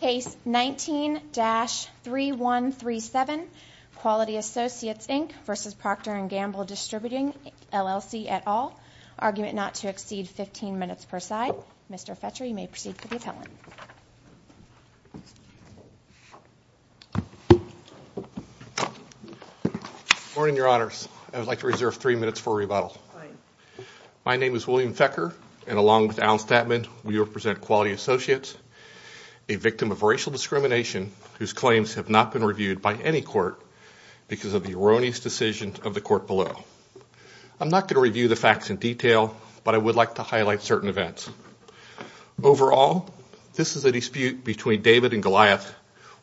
Case 19-3137, Quality Associates Inc v. Procter and Gamble Distributing, LLC, et al. Argument not to exceed 15 minutes per side. Mr. Fetcher, you may proceed to the appellant. Good morning, Your Honors. I would like to reserve three minutes for rebuttal. Fine. My name is William Fetcher, and along with Alan Statman, we represent Quality Associates, a victim of racial discrimination whose claims have not been reviewed by any court because of the erroneous decisions of the court below. I'm not going to review the facts in detail, but I would like to highlight certain events. Overall, this is a dispute between David and Goliath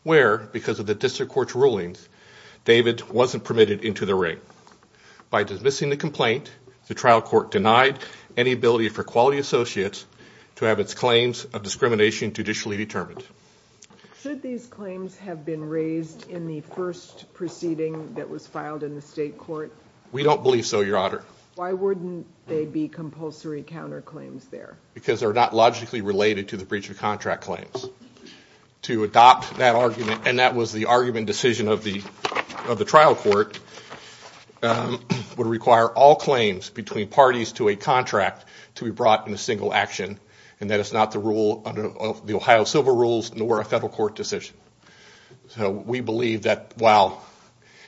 where, because of the district court's rulings, David wasn't permitted into the ring. By dismissing the complaint, the trial court denied any ability for Quality Associates to have its claims of discrimination judicially determined. Should these claims have been raised in the first proceeding that was filed in the state court? We don't believe so, Your Honor. Why wouldn't they be compulsory counterclaims there? Because they're not logically related to the breach of contract claims. To adopt that argument, and that was the argument and decision of the trial court, would require all claims between parties to a contract to be brought in a single action, and that is not the rule of the Ohio civil rules nor a federal court decision. So we believe that while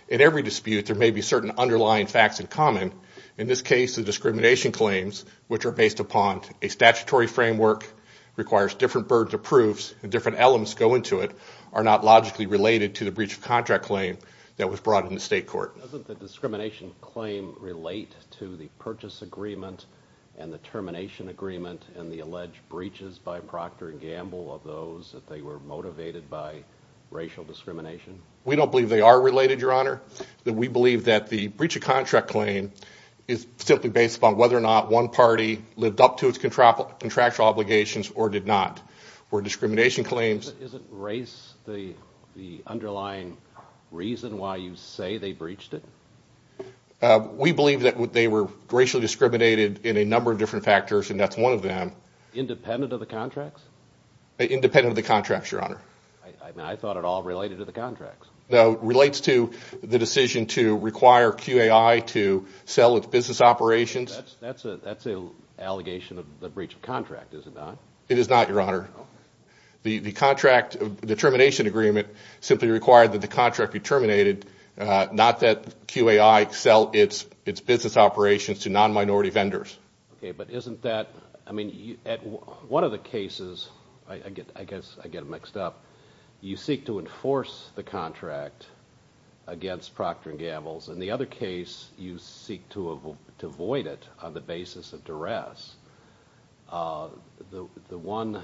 in every dispute there may be certain underlying facts in common, in this case the discrimination claims, which are based upon a statutory framework, requires different birds of proofs and different elements go into it, are not logically related to the breach of contract claim that was brought in the state court. Doesn't the discrimination claim relate to the purchase agreement and the termination agreement and the alleged breaches by Procter & Gamble of those that they were motivated by racial discrimination? We don't believe they are related, Your Honor. We believe that the breach of contract claim is simply based upon whether or not one party lived up to its contractual obligations or did not. Where discrimination claims – Isn't race the underlying reason why you say they breached it? We believe that they were racially discriminated in a number of different factors, and that's one of them. Independent of the contracts? Independent of the contracts, Your Honor. I thought it all related to the contracts. No, it relates to the decision to require QAI to sell its business operations. That's an allegation of the breach of contract, is it not? It is not, Your Honor. The termination agreement simply required that the contract be terminated, not that QAI sell its business operations to non-minority vendors. Okay, but isn't that – I mean, one of the cases, I guess I get it mixed up, you seek to enforce the contract against Procter & Gamble, and the other case you seek to avoid it on the basis of duress. The one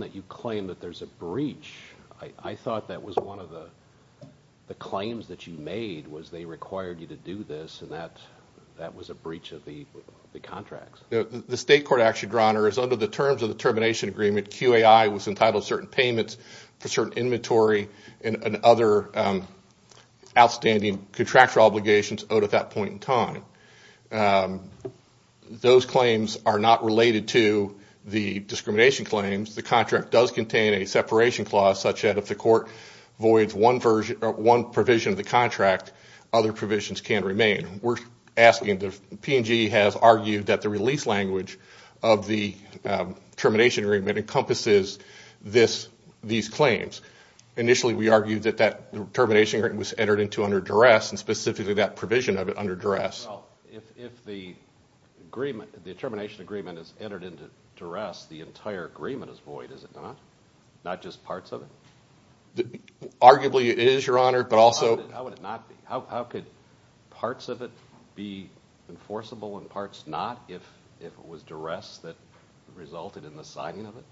that you claim that there's a breach, I thought that was one of the claims that you made was they required you to do this, and that was a breach of the contracts. The state court action, Your Honor, is under the terms of the termination agreement, and QAI was entitled to certain payments for certain inventory and other outstanding contractual obligations owed at that point in time. Those claims are not related to the discrimination claims. The contract does contain a separation clause, such that if the court voids one provision of the contract, other provisions can remain. The P&G has argued that the release language of the termination agreement encompasses these claims. Initially, we argued that that termination agreement was entered into under duress, and specifically that provision of it under duress. Well, if the termination agreement is entered into duress, the entire agreement is void, is it not? Not just parts of it? Arguably it is, Your Honor, but also – How would it not be? How could parts of it be enforceable and parts not if it was duress that resulted in the signing of it?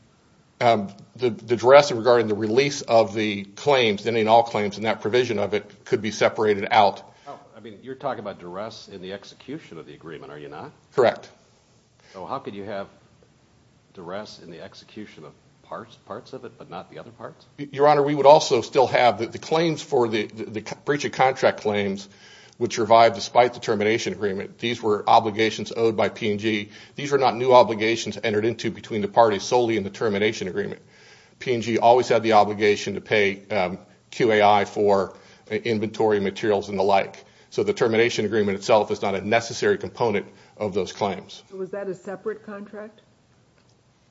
The duress regarding the release of the claims, then in all claims in that provision of it could be separated out. I mean, you're talking about duress in the execution of the agreement, are you not? Correct. So how could you have duress in the execution of parts of it, but not the other parts? Your Honor, we would also still have the claims for the breach of contract claims, which revived despite the termination agreement. These were obligations owed by P&G. These were not new obligations entered into between the parties solely in the termination agreement. P&G always had the obligation to pay QAI for inventory materials and the like. So the termination agreement itself is not a necessary component of those claims. So was that a separate contract?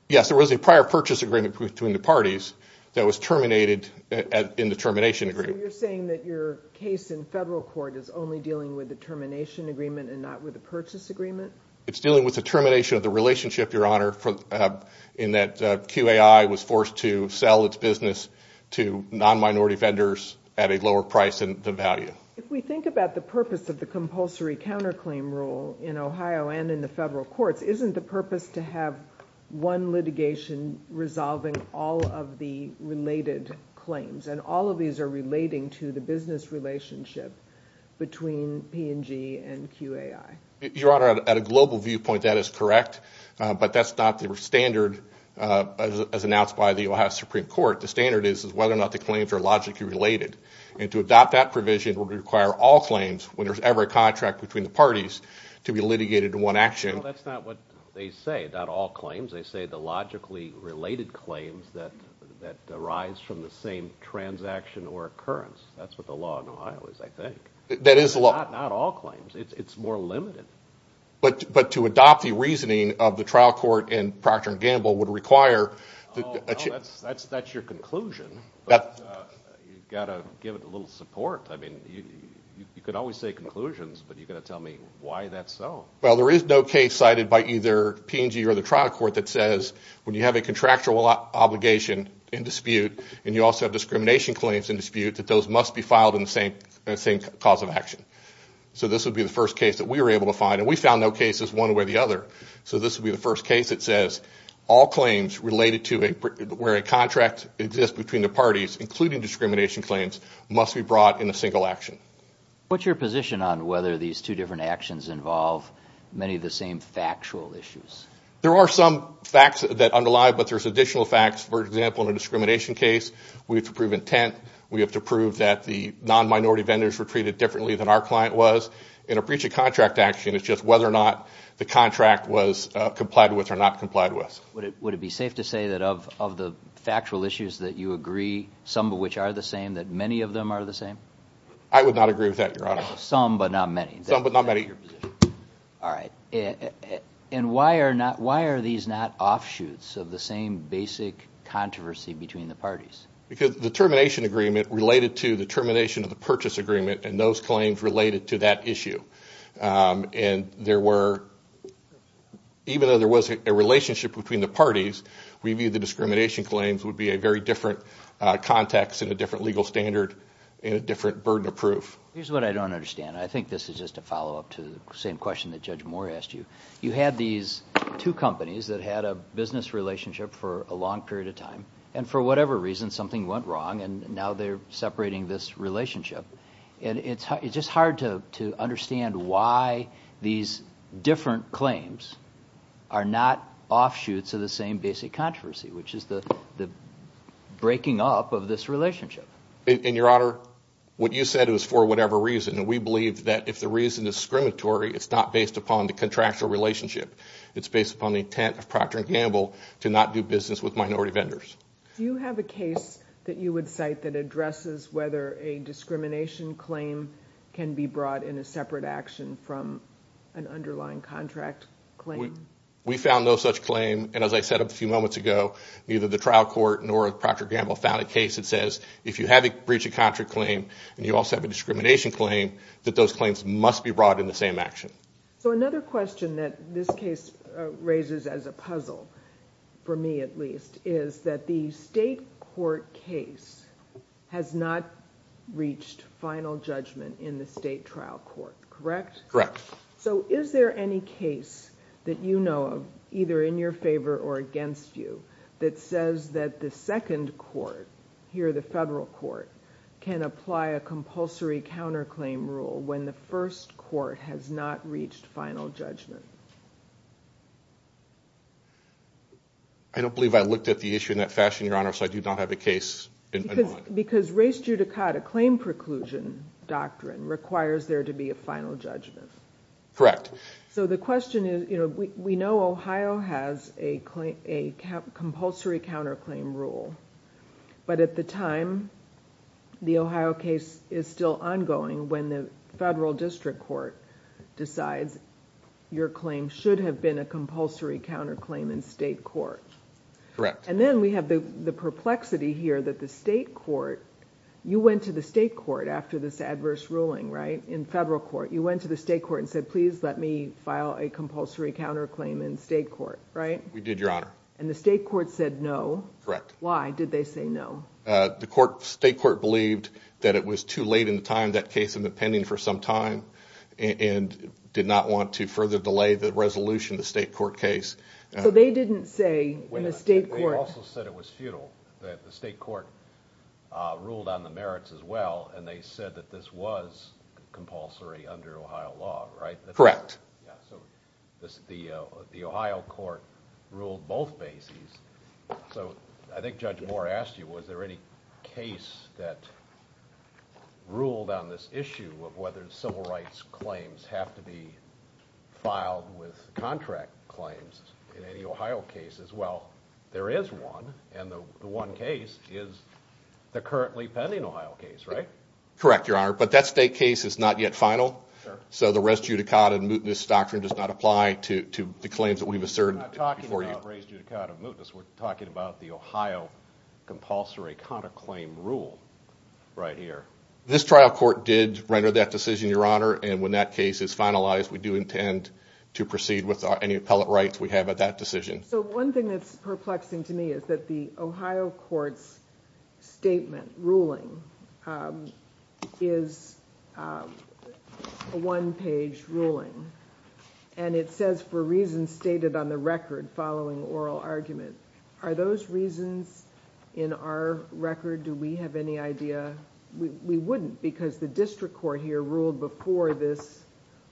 Yes, there was a prior purchase agreement between the parties that was terminated in the termination agreement. So you're saying that your case in federal court is only dealing with the termination agreement and not with the purchase agreement? It's dealing with the termination of the relationship, Your Honor, in that QAI was forced to sell its business to non-minority vendors at a lower price than the value. If we think about the purpose of the compulsory counterclaim rule in Ohio and in the federal courts, isn't the purpose to have one litigation resolving all of the related claims, and all of these are relating to the business relationship between P&G and QAI? Your Honor, at a global viewpoint, that is correct, but that's not the standard as announced by the Ohio Supreme Court. The standard is whether or not the claims are logically related, and to adopt that provision would require all claims, when there's ever a contract between the parties, to be litigated in one action. Well, that's not what they say, not all claims. They say the logically related claims that arise from the same transaction or occurrence. That's what the law in Ohio is, I think. That is the law. Not all claims. It's more limited. But to adopt the reasoning of the trial court and Procter & Gamble would require – Well, that's your conclusion, but you've got to give it a little support. I mean, you could always say conclusions, but you've got to tell me why that's so. Well, there is no case cited by either P&G or the trial court that says, when you have a contractual obligation in dispute, and you also have discrimination claims in dispute, that those must be filed in the same cause of action. So this would be the first case that we were able to find, and we found no cases one way or the other. So this would be the first case that says all claims related to where a contract exists between the parties, including discrimination claims, must be brought in a single action. What's your position on whether these two different actions involve many of the same factual issues? There are some facts that underlie it, but there's additional facts. For example, in a discrimination case, we have to prove intent. We have to prove that the non-minority vendors were treated differently than our client was. In a breach of contract action, it's just whether or not the contract was complied with or not complied with. Would it be safe to say that of the factual issues that you agree, some of which are the same, that many of them are the same? I would not agree with that, Your Honor. Some, but not many. Some, but not many. All right. And why are these not offshoots of the same basic controversy between the parties? Because the termination agreement related to the termination of the purchase agreement, and those claims related to that issue. And there were, even though there was a relationship between the parties, review the discrimination claims would be a very different context and a different legal standard and a different burden of proof. Here's what I don't understand. I think this is just a follow-up to the same question that Judge Moore asked you. You had these two companies that had a business relationship for a long period of time, and for whatever reason, something went wrong, and now they're separating this relationship. And it's just hard to understand why these different claims are not offshoots of the same basic controversy, which is the breaking up of this relationship. And, Your Honor, what you said was for whatever reason, and we believe that if the reason is discriminatory, it's not based upon the contractual relationship. It's based upon the intent of Procter & Gamble to not do business with minority vendors. Do you have a case that you would cite that addresses whether a discrimination claim can be brought in a separate action from an underlying contract claim? We found no such claim, and as I said a few moments ago, neither the trial court nor Procter & Gamble found a case that says if you have a breach of contract claim and you also have a discrimination claim, that those claims must be brought in the same action. So another question that this case raises as a puzzle, for me at least, is that the state court case has not reached final judgment in the state trial court, correct? Correct. So is there any case that you know of, either in your favor or against you, that says that the second court, here the federal court, can apply a compulsory counterclaim rule when the first court has not reached final judgment? I don't believe I looked at the issue in that fashion, Your Honor, so I do not have a case in mind. Because race judicata claim preclusion doctrine requires there to be a final judgment. Correct. So the question is, we know Ohio has a compulsory counterclaim rule, but at the time, the Ohio case is still ongoing when the federal district court decides your claim should have been a compulsory counterclaim in state court. Correct. And then we have the perplexity here that the state court, you went to the state court after this adverse ruling, right? In federal court, you went to the state court and said, please let me file a compulsory counterclaim in state court, right? We did, Your Honor. And the state court said no. Correct. Why did they say no? The state court believed that it was too late in the time, that case had been pending for some time, and did not want to further delay the resolution of the state court case. So they didn't say in the state court... They also said it was futile, that the state court ruled on the merits as well, and they said that this was compulsory under Ohio law, right? Correct. The Ohio court ruled both bases. So I think Judge Moore asked you, was there any case that ruled on this issue of whether civil rights claims have to be filed with contract claims in any Ohio cases? Well, there is one, and the one case is the currently pending Ohio case, right? Correct, Your Honor. But that state case is not yet final. So the res judicata and mootness doctrine does not apply to the claims that we've asserted before you. We're not talking about res judicata and mootness. We're talking about the Ohio compulsory counterclaim rule right here. This trial court did render that decision, Your Honor, and when that case is finalized, we do intend to proceed with any appellate rights we have at that decision. So one thing that's perplexing to me is that the Ohio court's statement ruling is a one-page ruling, and it says for reasons stated on the record following oral argument. Are those reasons in our record? Do we have any idea? We wouldn't because the district court here ruled before this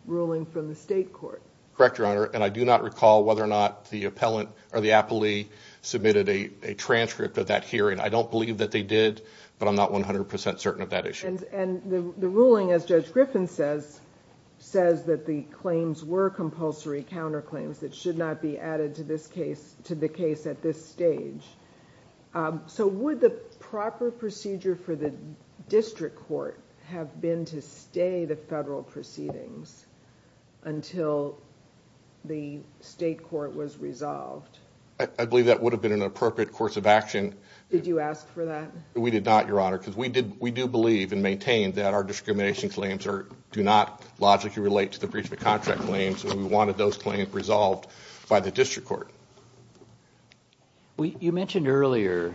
ruling from the state court. Correct, Your Honor, and I do not recall whether or not the appellant or the appellee submitted a transcript of that hearing. I don't believe that they did, but I'm not 100% certain of that issue. And the ruling, as Judge Griffin says, says that the claims were compulsory counterclaims that should not be added to the case at this stage. So would the proper procedure for the district court have been to stay the federal proceedings until the state court was resolved? I believe that would have been an appropriate course of action. Did you ask for that? We did not, Your Honor, because we do believe and maintain that our discrimination claims do not logically relate to the breach of the contract claims, and we wanted those claims resolved by the district court. You mentioned earlier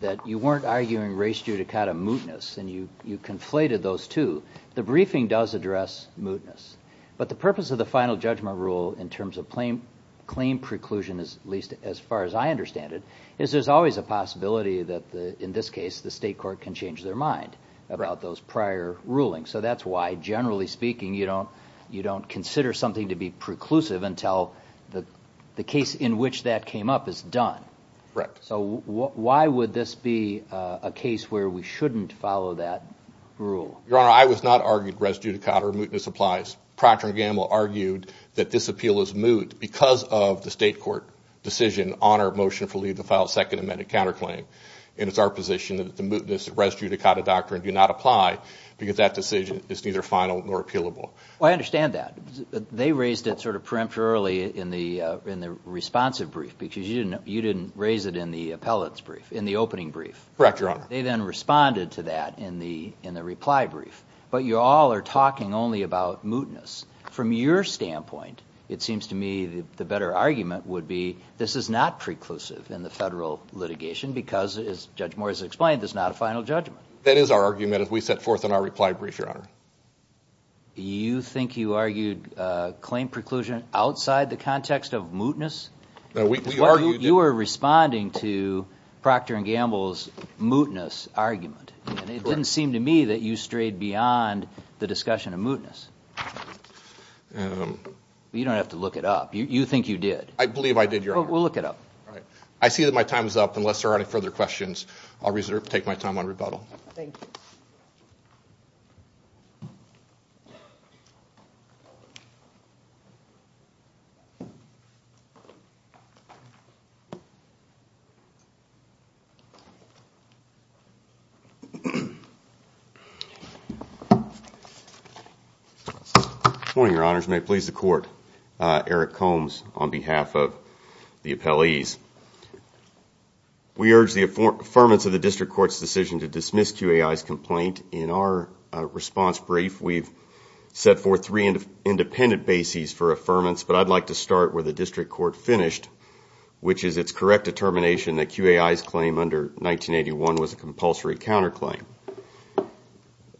that you weren't arguing race due to kind of mootness, and you conflated those two. The briefing does address mootness, but the purpose of the final judgment rule in terms of claim preclusion, at least as far as I understand it, is there's always a possibility that, in this case, the state court can change their mind about those prior rulings. So that's why, generally speaking, you don't consider something to be preclusive until the case in which that came up is done. Correct. So why would this be a case where we shouldn't follow that rule? Your Honor, I was not arguing race due to kind of mootness applies. Procter & Gamble argued that this appeal is moot because of the state court decision on our motion to file a second amended counterclaim, and it's our position that the mootness, race due to kind of doctrine, do not apply because that decision is neither final nor appealable. I understand that. They raised it sort of preemptorily in the responsive brief because you didn't raise it in the appellate's brief, in the opening brief. Correct, Your Honor. They then responded to that in the reply brief, but you all are talking only about mootness. From your standpoint, it seems to me the better argument would be this is not preclusive in the federal litigation because, as Judge Morris explained, this is not a final judgment. That is our argument as we set forth in our reply brief, Your Honor. You think you argued claim preclusion outside the context of mootness? You were responding to Procter & Gamble's mootness argument, and it didn't seem to me that you strayed beyond the discussion of mootness. You don't have to look it up. You think you did. I believe I did, Your Honor. Well, look it up. I see that my time is up. Unless there are any further questions, I'll take my time on rebuttal. Thank you. Good morning, Your Honors. May it please the Court. Eric Combs on behalf of the appellees. We urge the affirmance of the district court's decision to dismiss QAI's complaint. In our response brief, we've set forth three independent bases for affirmance, but I'd like to start where the district court finished, which is its correct determination that QAI's claim under 1981 was a compulsory counterclaim.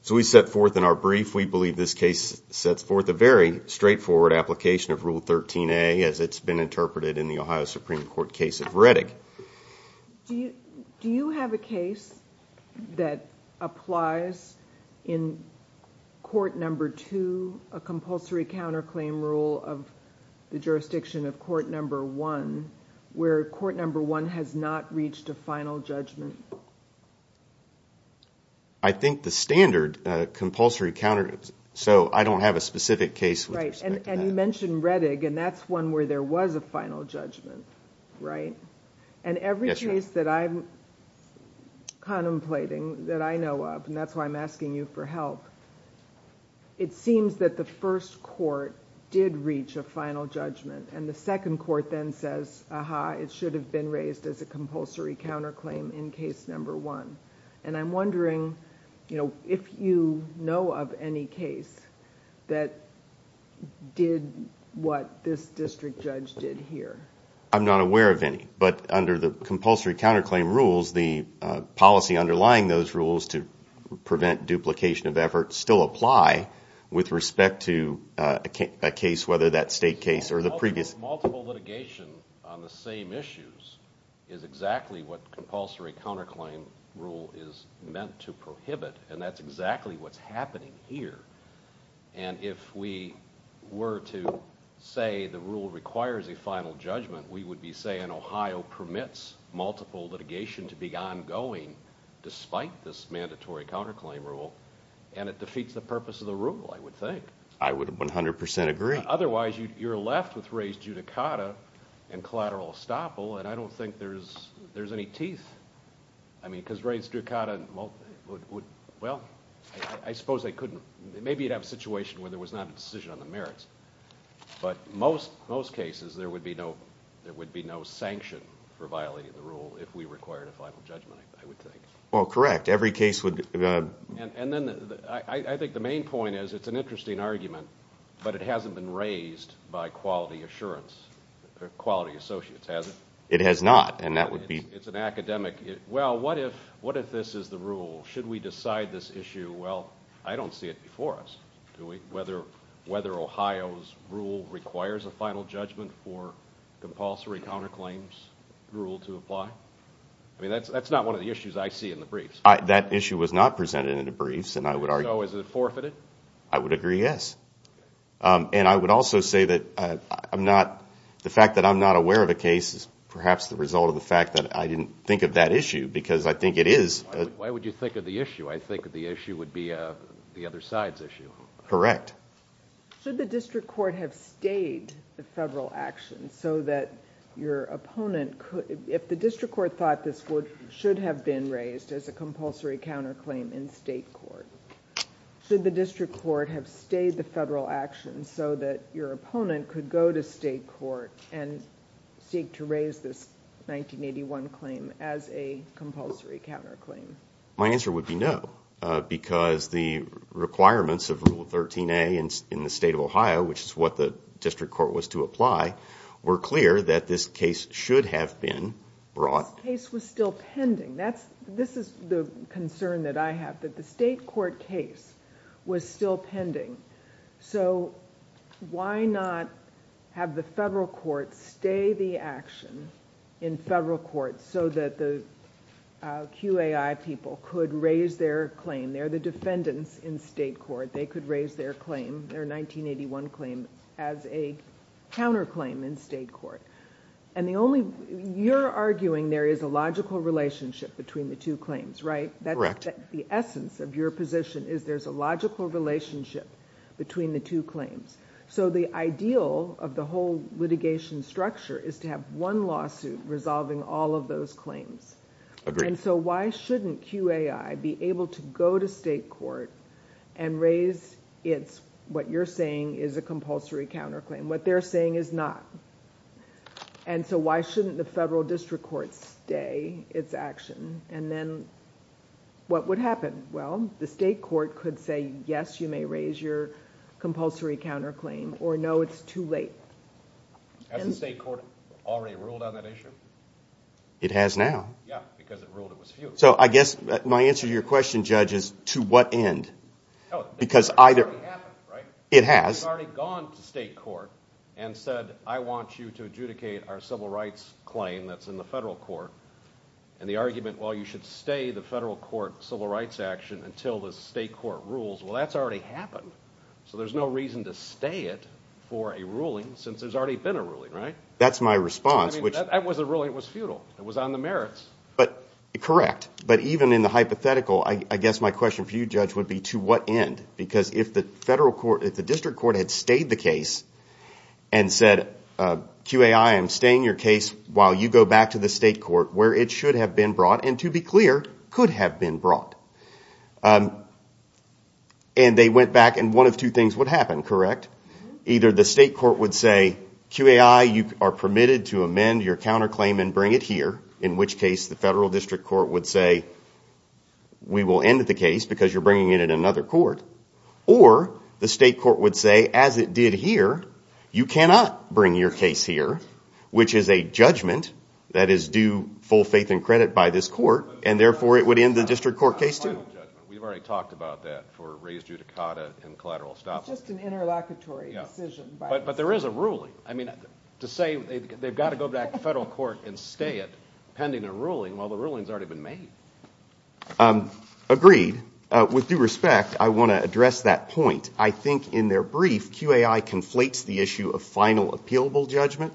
So we set forth in our brief, we believe this case sets forth a very straightforward application of Rule 13a as it's been interpreted in the Ohio Supreme Court case of Reddick. Do you have a case that applies in Court Number 2, a compulsory counterclaim rule of the jurisdiction of Court Number 1, where Court Number 1 has not reached a final judgment? I think the standard compulsory counterclaim. So I don't have a specific case with respect to that. And you mentioned Reddick, and that's one where there was a final judgment, right? And every case that I'm contemplating, that I know of, and that's why I'm asking you for help, it seems that the first court did reach a final judgment, and the second court then says, aha, it should have been raised as a compulsory counterclaim in Case Number 1. And I'm wondering if you know of any case that did what this district judge did here. I'm not aware of any. But under the compulsory counterclaim rules, the policy underlying those rules to prevent duplication of efforts still apply with respect to a case, whether that state case or the previous. Multiple litigation on the same issues is exactly what compulsory counterclaim rule is meant to prohibit, and that's exactly what's happening here. And if we were to say the rule requires a final judgment, we would be saying Ohio permits multiple litigation to be ongoing despite this mandatory counterclaim rule, and it defeats the purpose of the rule, I would think. I would 100% agree. Otherwise, you're left with raised judicata and collateral estoppel, and I don't think there's any teeth. I mean, because raised judicata would, well, I suppose they couldn't. Maybe you'd have a situation where there was not a decision on the merits, but most cases there would be no sanction for violating the rule if we required a final judgment, I would think. Well, correct. Every case would be. And then I think the main point is it's an interesting argument, but it hasn't been raised by quality assurance or quality associates, has it? It has not, and that would be. It's an academic. Well, what if this is the rule? Should we decide this issue? Well, I don't see it before us, do we? Whether Ohio's rule requires a final judgment for compulsory counterclaims rule to apply? I mean, that's not one of the issues I see in the briefs. That issue was not presented in the briefs, and I would argue. So is it forfeited? I would agree, yes. And I would also say that I'm not, the fact that I'm not aware of a case is perhaps the result of the fact that I didn't think of that issue because I think it is. Why would you think of the issue? I think the issue would be the other side's issue. Correct. Should the district court have stayed the federal action so that your opponent could, if the district court thought this should have been raised as a compulsory counterclaim in state court, should the district court have stayed the federal action so that your opponent could go to state court and seek to raise this 1981 claim as a compulsory counterclaim? My answer would be no, because the requirements of Rule 13a in the state of Ohio, which is what the district court was to apply, were clear that this case should have been brought. This case was still pending. This is the concern that I have, that the state court case was still pending. Why not have the federal court stay the action in federal court so that the QAI people could raise their claim? They're the defendants in state court. They could raise their 1981 claim as a counterclaim in state court. You're arguing there is a logical relationship between the two claims, right? Correct. The essence of your position is there's a logical relationship between the two claims. The ideal of the whole litigation structure is to have one lawsuit resolving all of those claims. Why shouldn't QAI be able to go to state court and raise its what you're saying is a compulsory counterclaim? What they're saying is not. Why shouldn't the federal district court stay its action? Then what would happen? Well, the state court could say, yes, you may raise your compulsory counterclaim, or no, it's too late. Has the state court already ruled on that issue? It has now. Yeah, because it ruled it was futile. My answer to your question, Judge, is to what end? It's already happened, right? It has. You've already gone to state court and said, I want you to adjudicate our civil rights claim that's in the federal court, and the argument, well, you should stay the federal court civil rights action until the state court rules, well, that's already happened. So there's no reason to stay it for a ruling since there's already been a ruling, right? That's my response. That wasn't ruling, it was futile. It was on the merits. Correct, but even in the hypothetical, I guess my question for you, Judge, would be to what end? Because if the district court had stayed the case and said, QAI, I'm staying your case while you go back to the state court where it should have been brought, and to be clear, could have been brought, and they went back, and one of two things would happen, correct? Either the state court would say, QAI, you are permitted to amend your counterclaim and bring it here, in which case the federal district court would say, we will end the case because you're bringing it in another court, or the state court would say, as it did here, you cannot bring your case here, which is a judgment that is due full faith and credit by this court, and therefore it would end the district court case, too. We've already talked about that for raised judicata and collateral establishment. It's just an interlocutory decision. But there is a ruling. I mean, to say they've got to go back to federal court and stay it pending a ruling while the ruling's already been made. Agreed. With due respect, I want to address that point. I think in their brief, QAI conflates the issue of final appealable judgment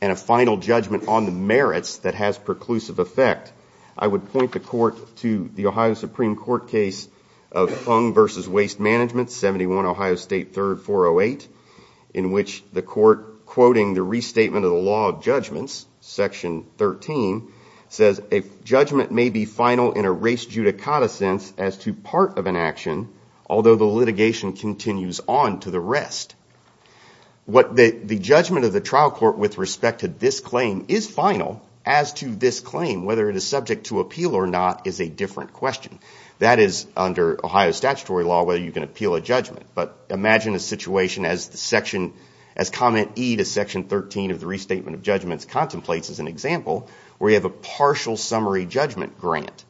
and a final judgment on the merits that has preclusive effect. I would point the court to the Ohio Supreme Court case of Fung v. Waste Management, 71 Ohio State 3rd 408, in which the court, quoting the restatement of the law of judgments, section 13, says, a judgment may be final in a raised judicata sense as to part of an action, although the litigation continues on to the rest. The judgment of the trial court with respect to this claim is final. As to this claim, whether it is subject to appeal or not, is a different question. That is, under Ohio statutory law, whether you can appeal a judgment. But imagine a situation as comment E to section 13 of the restatement of judgments contemplates as an example, where you have a partial summary judgment grant.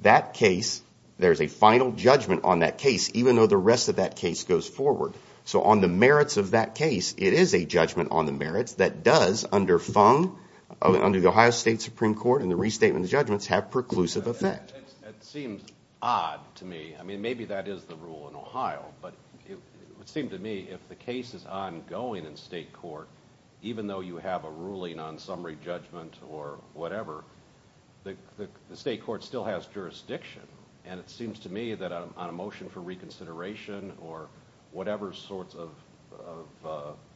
That case, there is a final judgment on that case, even though the rest of that case goes forward. So on the merits of that case, it is a judgment on the merits that does, under Fung, under the Ohio State Supreme Court and the restatement of judgments, have preclusive effect. It seems odd to me. I mean, maybe that is the rule in Ohio. But it would seem to me, if the case is ongoing in state court, even though you have a ruling on summary judgment or whatever, the state court still has jurisdiction. And it seems to me that on a motion for reconsideration or whatever sorts of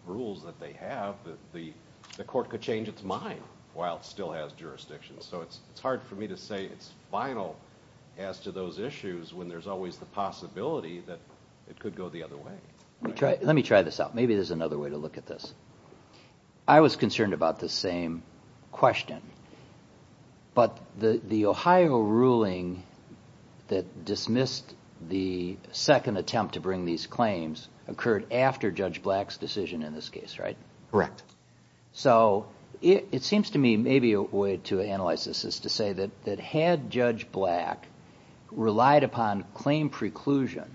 rules that they have, the court could change its mind while it still has jurisdiction. So it is hard for me to say it is final as to those issues when there is always the possibility that it could go the other way. Let me try this out. Maybe there is another way to look at this. I was concerned about this same question. But the Ohio ruling that dismissed the second attempt to bring these claims occurred after Judge Black's decision in this case, right? Correct. So it seems to me maybe a way to analyze this is to say that had Judge Black relied upon claim preclusion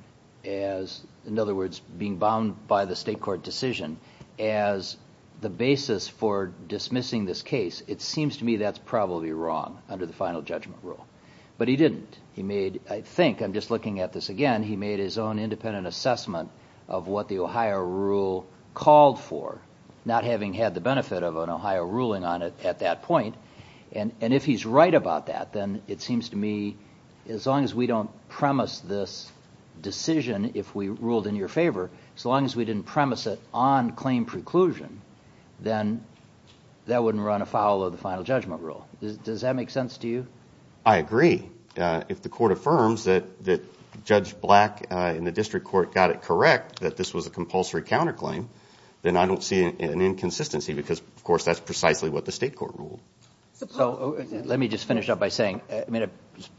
as, in other words, being bound by the state court decision as the basis for dismissing this case, it seems to me that is probably wrong under the final judgment rule. But he didn't. I think, I'm just looking at this again, he made his own independent assessment of what the Ohio rule called for, not having had the benefit of an Ohio ruling on it at that point. And if he is right about that, then it seems to me as long as we don't premise this decision, if we ruled in your favor, as long as we didn't premise it on claim preclusion, then that wouldn't run afoul of the final judgment rule. Does that make sense to you? I agree. If the court affirms that Judge Black in the district court got it correct that this was a compulsory counterclaim, then I don't see an inconsistency because, of course, that's precisely what the state court ruled. Let me just finish up by saying I'm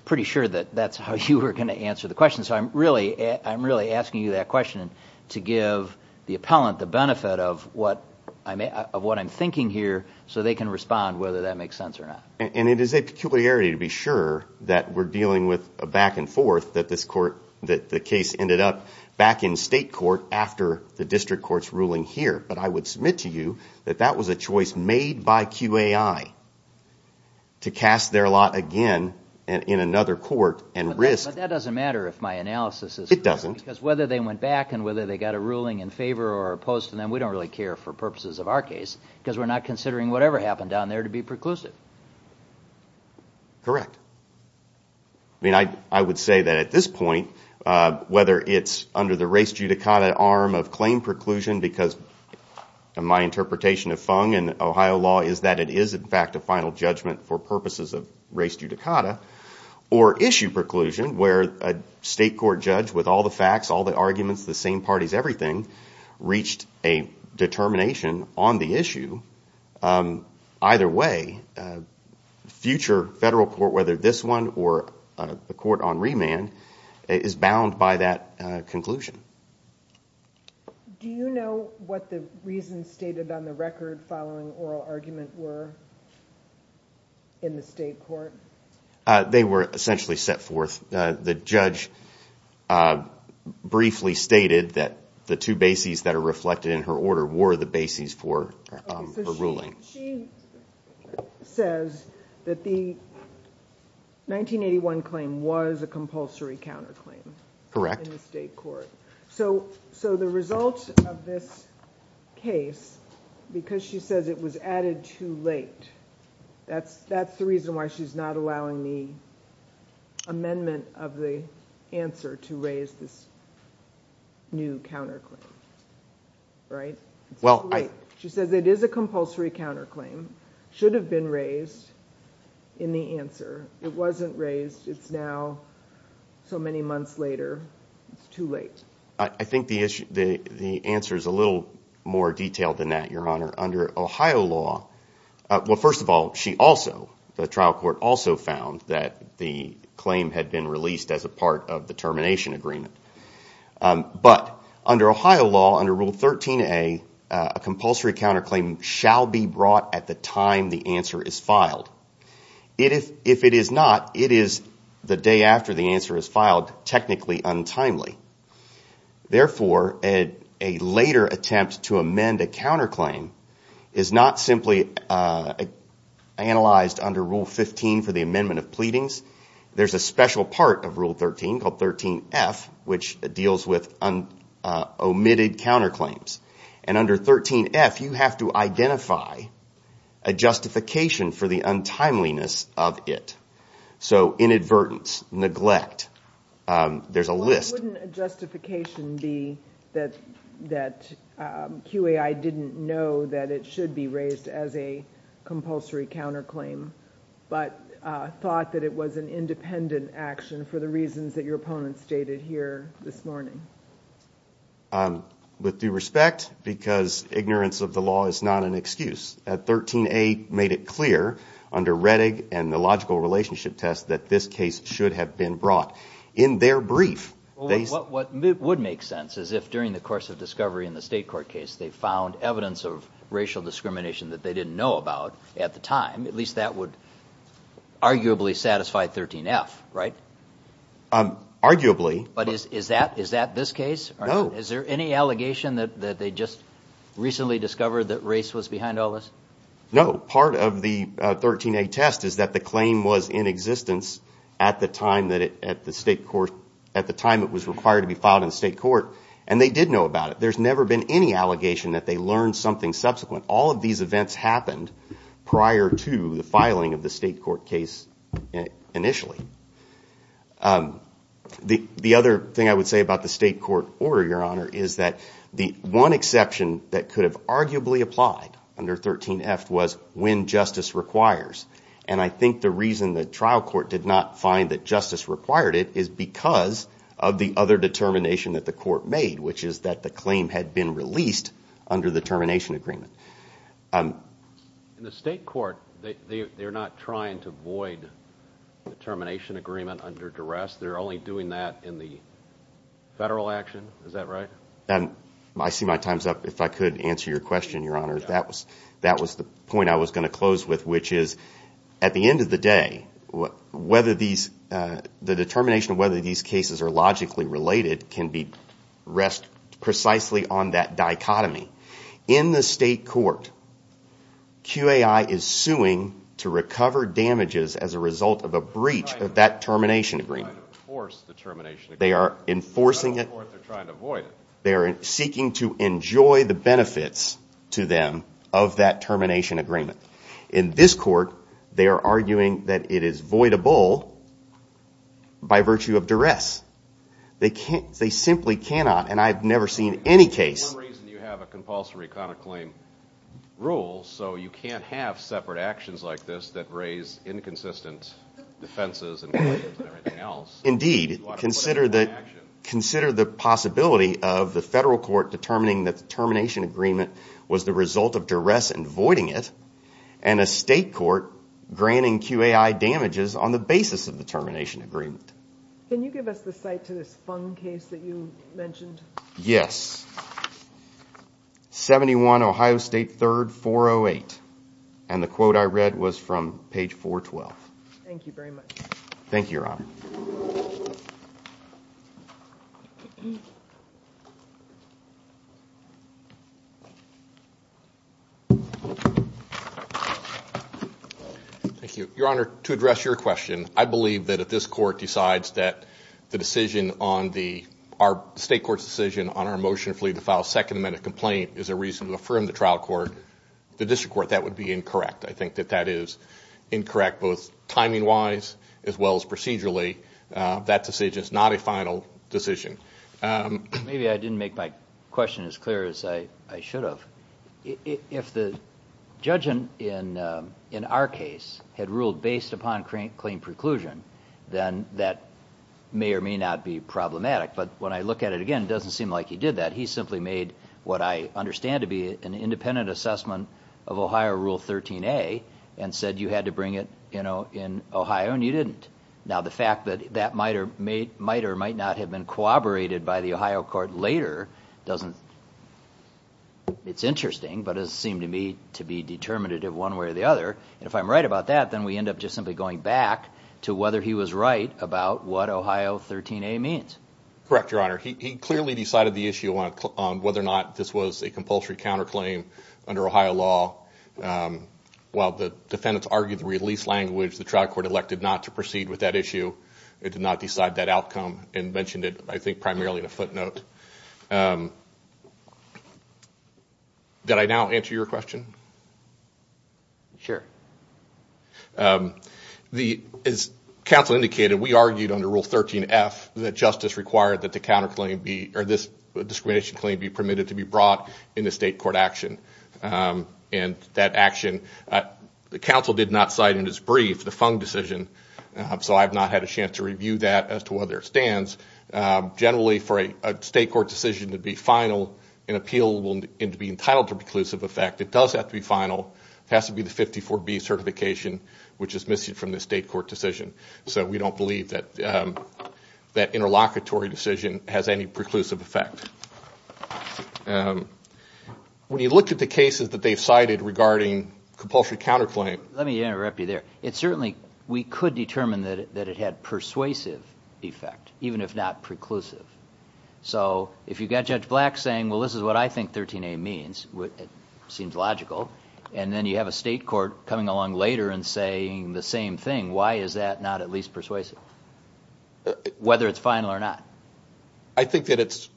pretty sure that that's how you were going to answer the question. So I'm really asking you that question. To give the appellant the benefit of what I'm thinking here so they can respond whether that makes sense or not. And it is a peculiarity to be sure that we're dealing with a back and forth, that the case ended up back in state court after the district court's ruling here. But I would submit to you that that was a choice made by QAI to cast their lot again in another court and risk... But that doesn't matter if my analysis is correct. It doesn't. Because whether they went back and whether they got a ruling in favor or opposed to them, we don't really care for purposes of our case because we're not considering whatever happened down there to be preclusive. Correct. I mean, I would say that at this point, whether it's under the res judicata arm of claim preclusion because my interpretation of Fung and Ohio law is that it is, in fact, a final judgment for purposes of res judicata, or issue preclusion where a state court judge with all the facts, all the arguments, the same parties, everything, reached a determination on the issue. Either way, future federal court, whether this one or the court on remand, is bound by that conclusion. Do you know what the reasons stated on the record following oral argument were in the state court? They were essentially set forth. The judge briefly stated that the two bases that are reflected in her order were the bases for her ruling. She says that the 1981 claim was a compulsory counterclaim in the state court. Correct. So the result of this case, because she says it was added too late, that's the reason why she's not allowing the amendment of the answer to raise this new counterclaim, right? She says it is a compulsory counterclaim, should have been raised in the answer. It wasn't raised. It's now so many months later. It's too late. I think the answer is a little more detailed than that, Your Honor. First of all, the trial court also found that the claim had been released as a part of the termination agreement. But under Ohio law, under Rule 13a, a compulsory counterclaim shall be brought at the time the answer is filed. If it is not, it is the day after the answer is filed, technically untimely. Therefore, a later attempt to amend a counterclaim is not simply analyzed under Rule 15 for the amendment of pleadings. There's a special part of Rule 13 called 13f, which deals with omitted counterclaims. And under 13f, you have to identify a justification for the untimeliness of it. So inadvertence, neglect, there's a list. What wouldn't a justification be that QAI didn't know that it should be raised as a compulsory counterclaim, but thought that it was an independent action for the reasons that your opponents stated here this morning? With due respect, because ignorance of the law is not an excuse, 13a made it clear under Rettig and the logical relationship test that this case should have been brought. In their brief, they said... What would make sense is if, during the course of discovery in the state court case, they found evidence of racial discrimination that they didn't know about at the time, at least that would arguably satisfy 13f, right? Arguably. But is that this case? No. Is there any allegation that they just recently discovered that race was behind all this? No. Part of the 13a test is that the claim was in existence at the time it was required to be filed in the state court, and they did know about it. There's never been any allegation that they learned something subsequent. All of these events happened prior to the filing of the state court case initially. The other thing I would say about the state court order, Your Honor, is that the one exception that could have arguably applied under 13f was when justice requires. And I think the reason the trial court did not find that justice required it is because of the other determination that the court made, which is that the claim had been released under the termination agreement. In the state court, they're not trying to void the termination agreement under duress. They're only doing that in the federal action. Is that right? I see my time's up. If I could answer your question, Your Honor. That was the point I was going to close with, which is at the end of the day, the determination of whether these cases are logically related can rest precisely on that dichotomy. In the state court, QAI is suing to recover damages as a result of a breach of that termination agreement. They are enforcing it. They are seeking to enjoy the benefits to them of that termination agreement. In this court, they are arguing that it is voidable by virtue of duress. They simply cannot, and I've never seen any case... For some reason, you have a compulsory conduct claim rule, so you can't have separate actions like this that raise inconsistent defenses and claims and everything else. Indeed. Consider the possibility of the federal court determining that the termination agreement was the result of duress in voiding it and a state court granting QAI damages on the basis of the termination agreement. Can you give us the site to this Fung case that you mentioned? Yes. 71 Ohio State 3rd, 408. And the quote I read was from page 412. Thank you very much. Thank you, Your Honor. Thank you. Your Honor, to address your question, I believe that if this court decides that the decision on the state court's decision on our motion to file a second amendment complaint is a reason to affirm the trial court, the district court, that would be incorrect. I think that that is incorrect, both timing-wise as well as procedurally. That decision is not a final decision. Maybe I didn't make my question as clear as I should have. If the judge in our case had ruled based upon claim preclusion, then that may or may not be problematic. But when I look at it again, it doesn't seem like he did that. He simply made what I understand to be an independent assessment of Ohio Rule 13a and said you had to bring it in Ohio, and you didn't. Now, the fact that that might or might not have been corroborated by the Ohio court later doesn't...it's interesting, but it doesn't seem to me to be determinative one way or the other. And if I'm right about that, then we end up just simply going back to whether he was right about what Ohio 13a means. Correct, Your Honor. He clearly decided the issue on whether or not this was a compulsory counterclaim under Ohio law. While the defendants argued the release language, the trial court elected not to proceed with that issue. It did not decide that outcome and mentioned it, I think, primarily in a footnote. Did I now answer your question? Sure. As counsel indicated, we argued under Rule 13f that justice required that the counterclaim be... or this discrimination claim be permitted to be brought in a state court action. And that action, the counsel did not cite in his brief the Fung decision, so I have not had a chance to review that as to whether it stands. Generally, for a state court decision to be final, an appeal will be entitled to preclusive effect. It does have to be final. It has to be the 54B certification, which is missing from the state court decision. So we don't believe that that interlocutory decision has any preclusive effect. When you look at the cases that they've cited regarding compulsory counterclaim... Let me interrupt you there. We could determine that it had persuasive effect, even if not preclusive. So if you've got Judge Black saying, well, this is what I think 13A means, it seems logical, and then you have a state court coming along later and saying the same thing, why is that not at least persuasive, whether it's final or not? I think that it's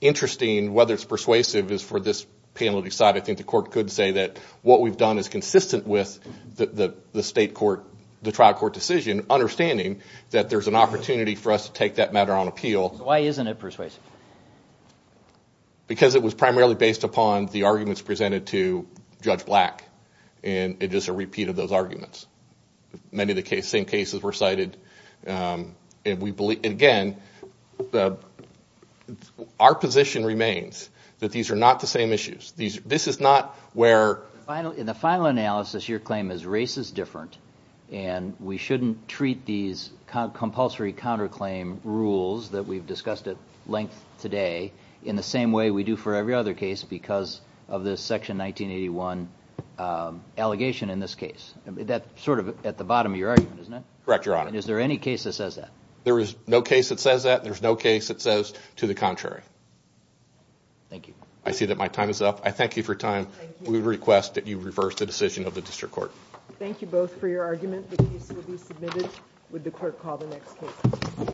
interesting whether it's persuasive is for this panel to decide. I think the court could say that what we've done is consistent with the trial court decision, understanding that there's an opportunity for us to take that matter on appeal. Why isn't it persuasive? Because it was primarily based upon the arguments presented to Judge Black, and it's just a repeat of those arguments. Many of the same cases were cited. Again, our position remains that these are not the same issues. This is not where... In the final analysis, your claim is race is different, and we shouldn't treat these compulsory counterclaim rules that we've discussed at length today in the same way we do for every other case because of this Section 1981 allegation in this case. That's sort of at the bottom of your argument, isn't it? Correct, Your Honor. And is there any case that says that? There is no case that says that. There's no case that says to the contrary. Thank you. I see that my time is up. I thank you for your time. We request that you reverse the decision of the District Court. Thank you both for your argument. The case will be submitted. Would the Court call the next case?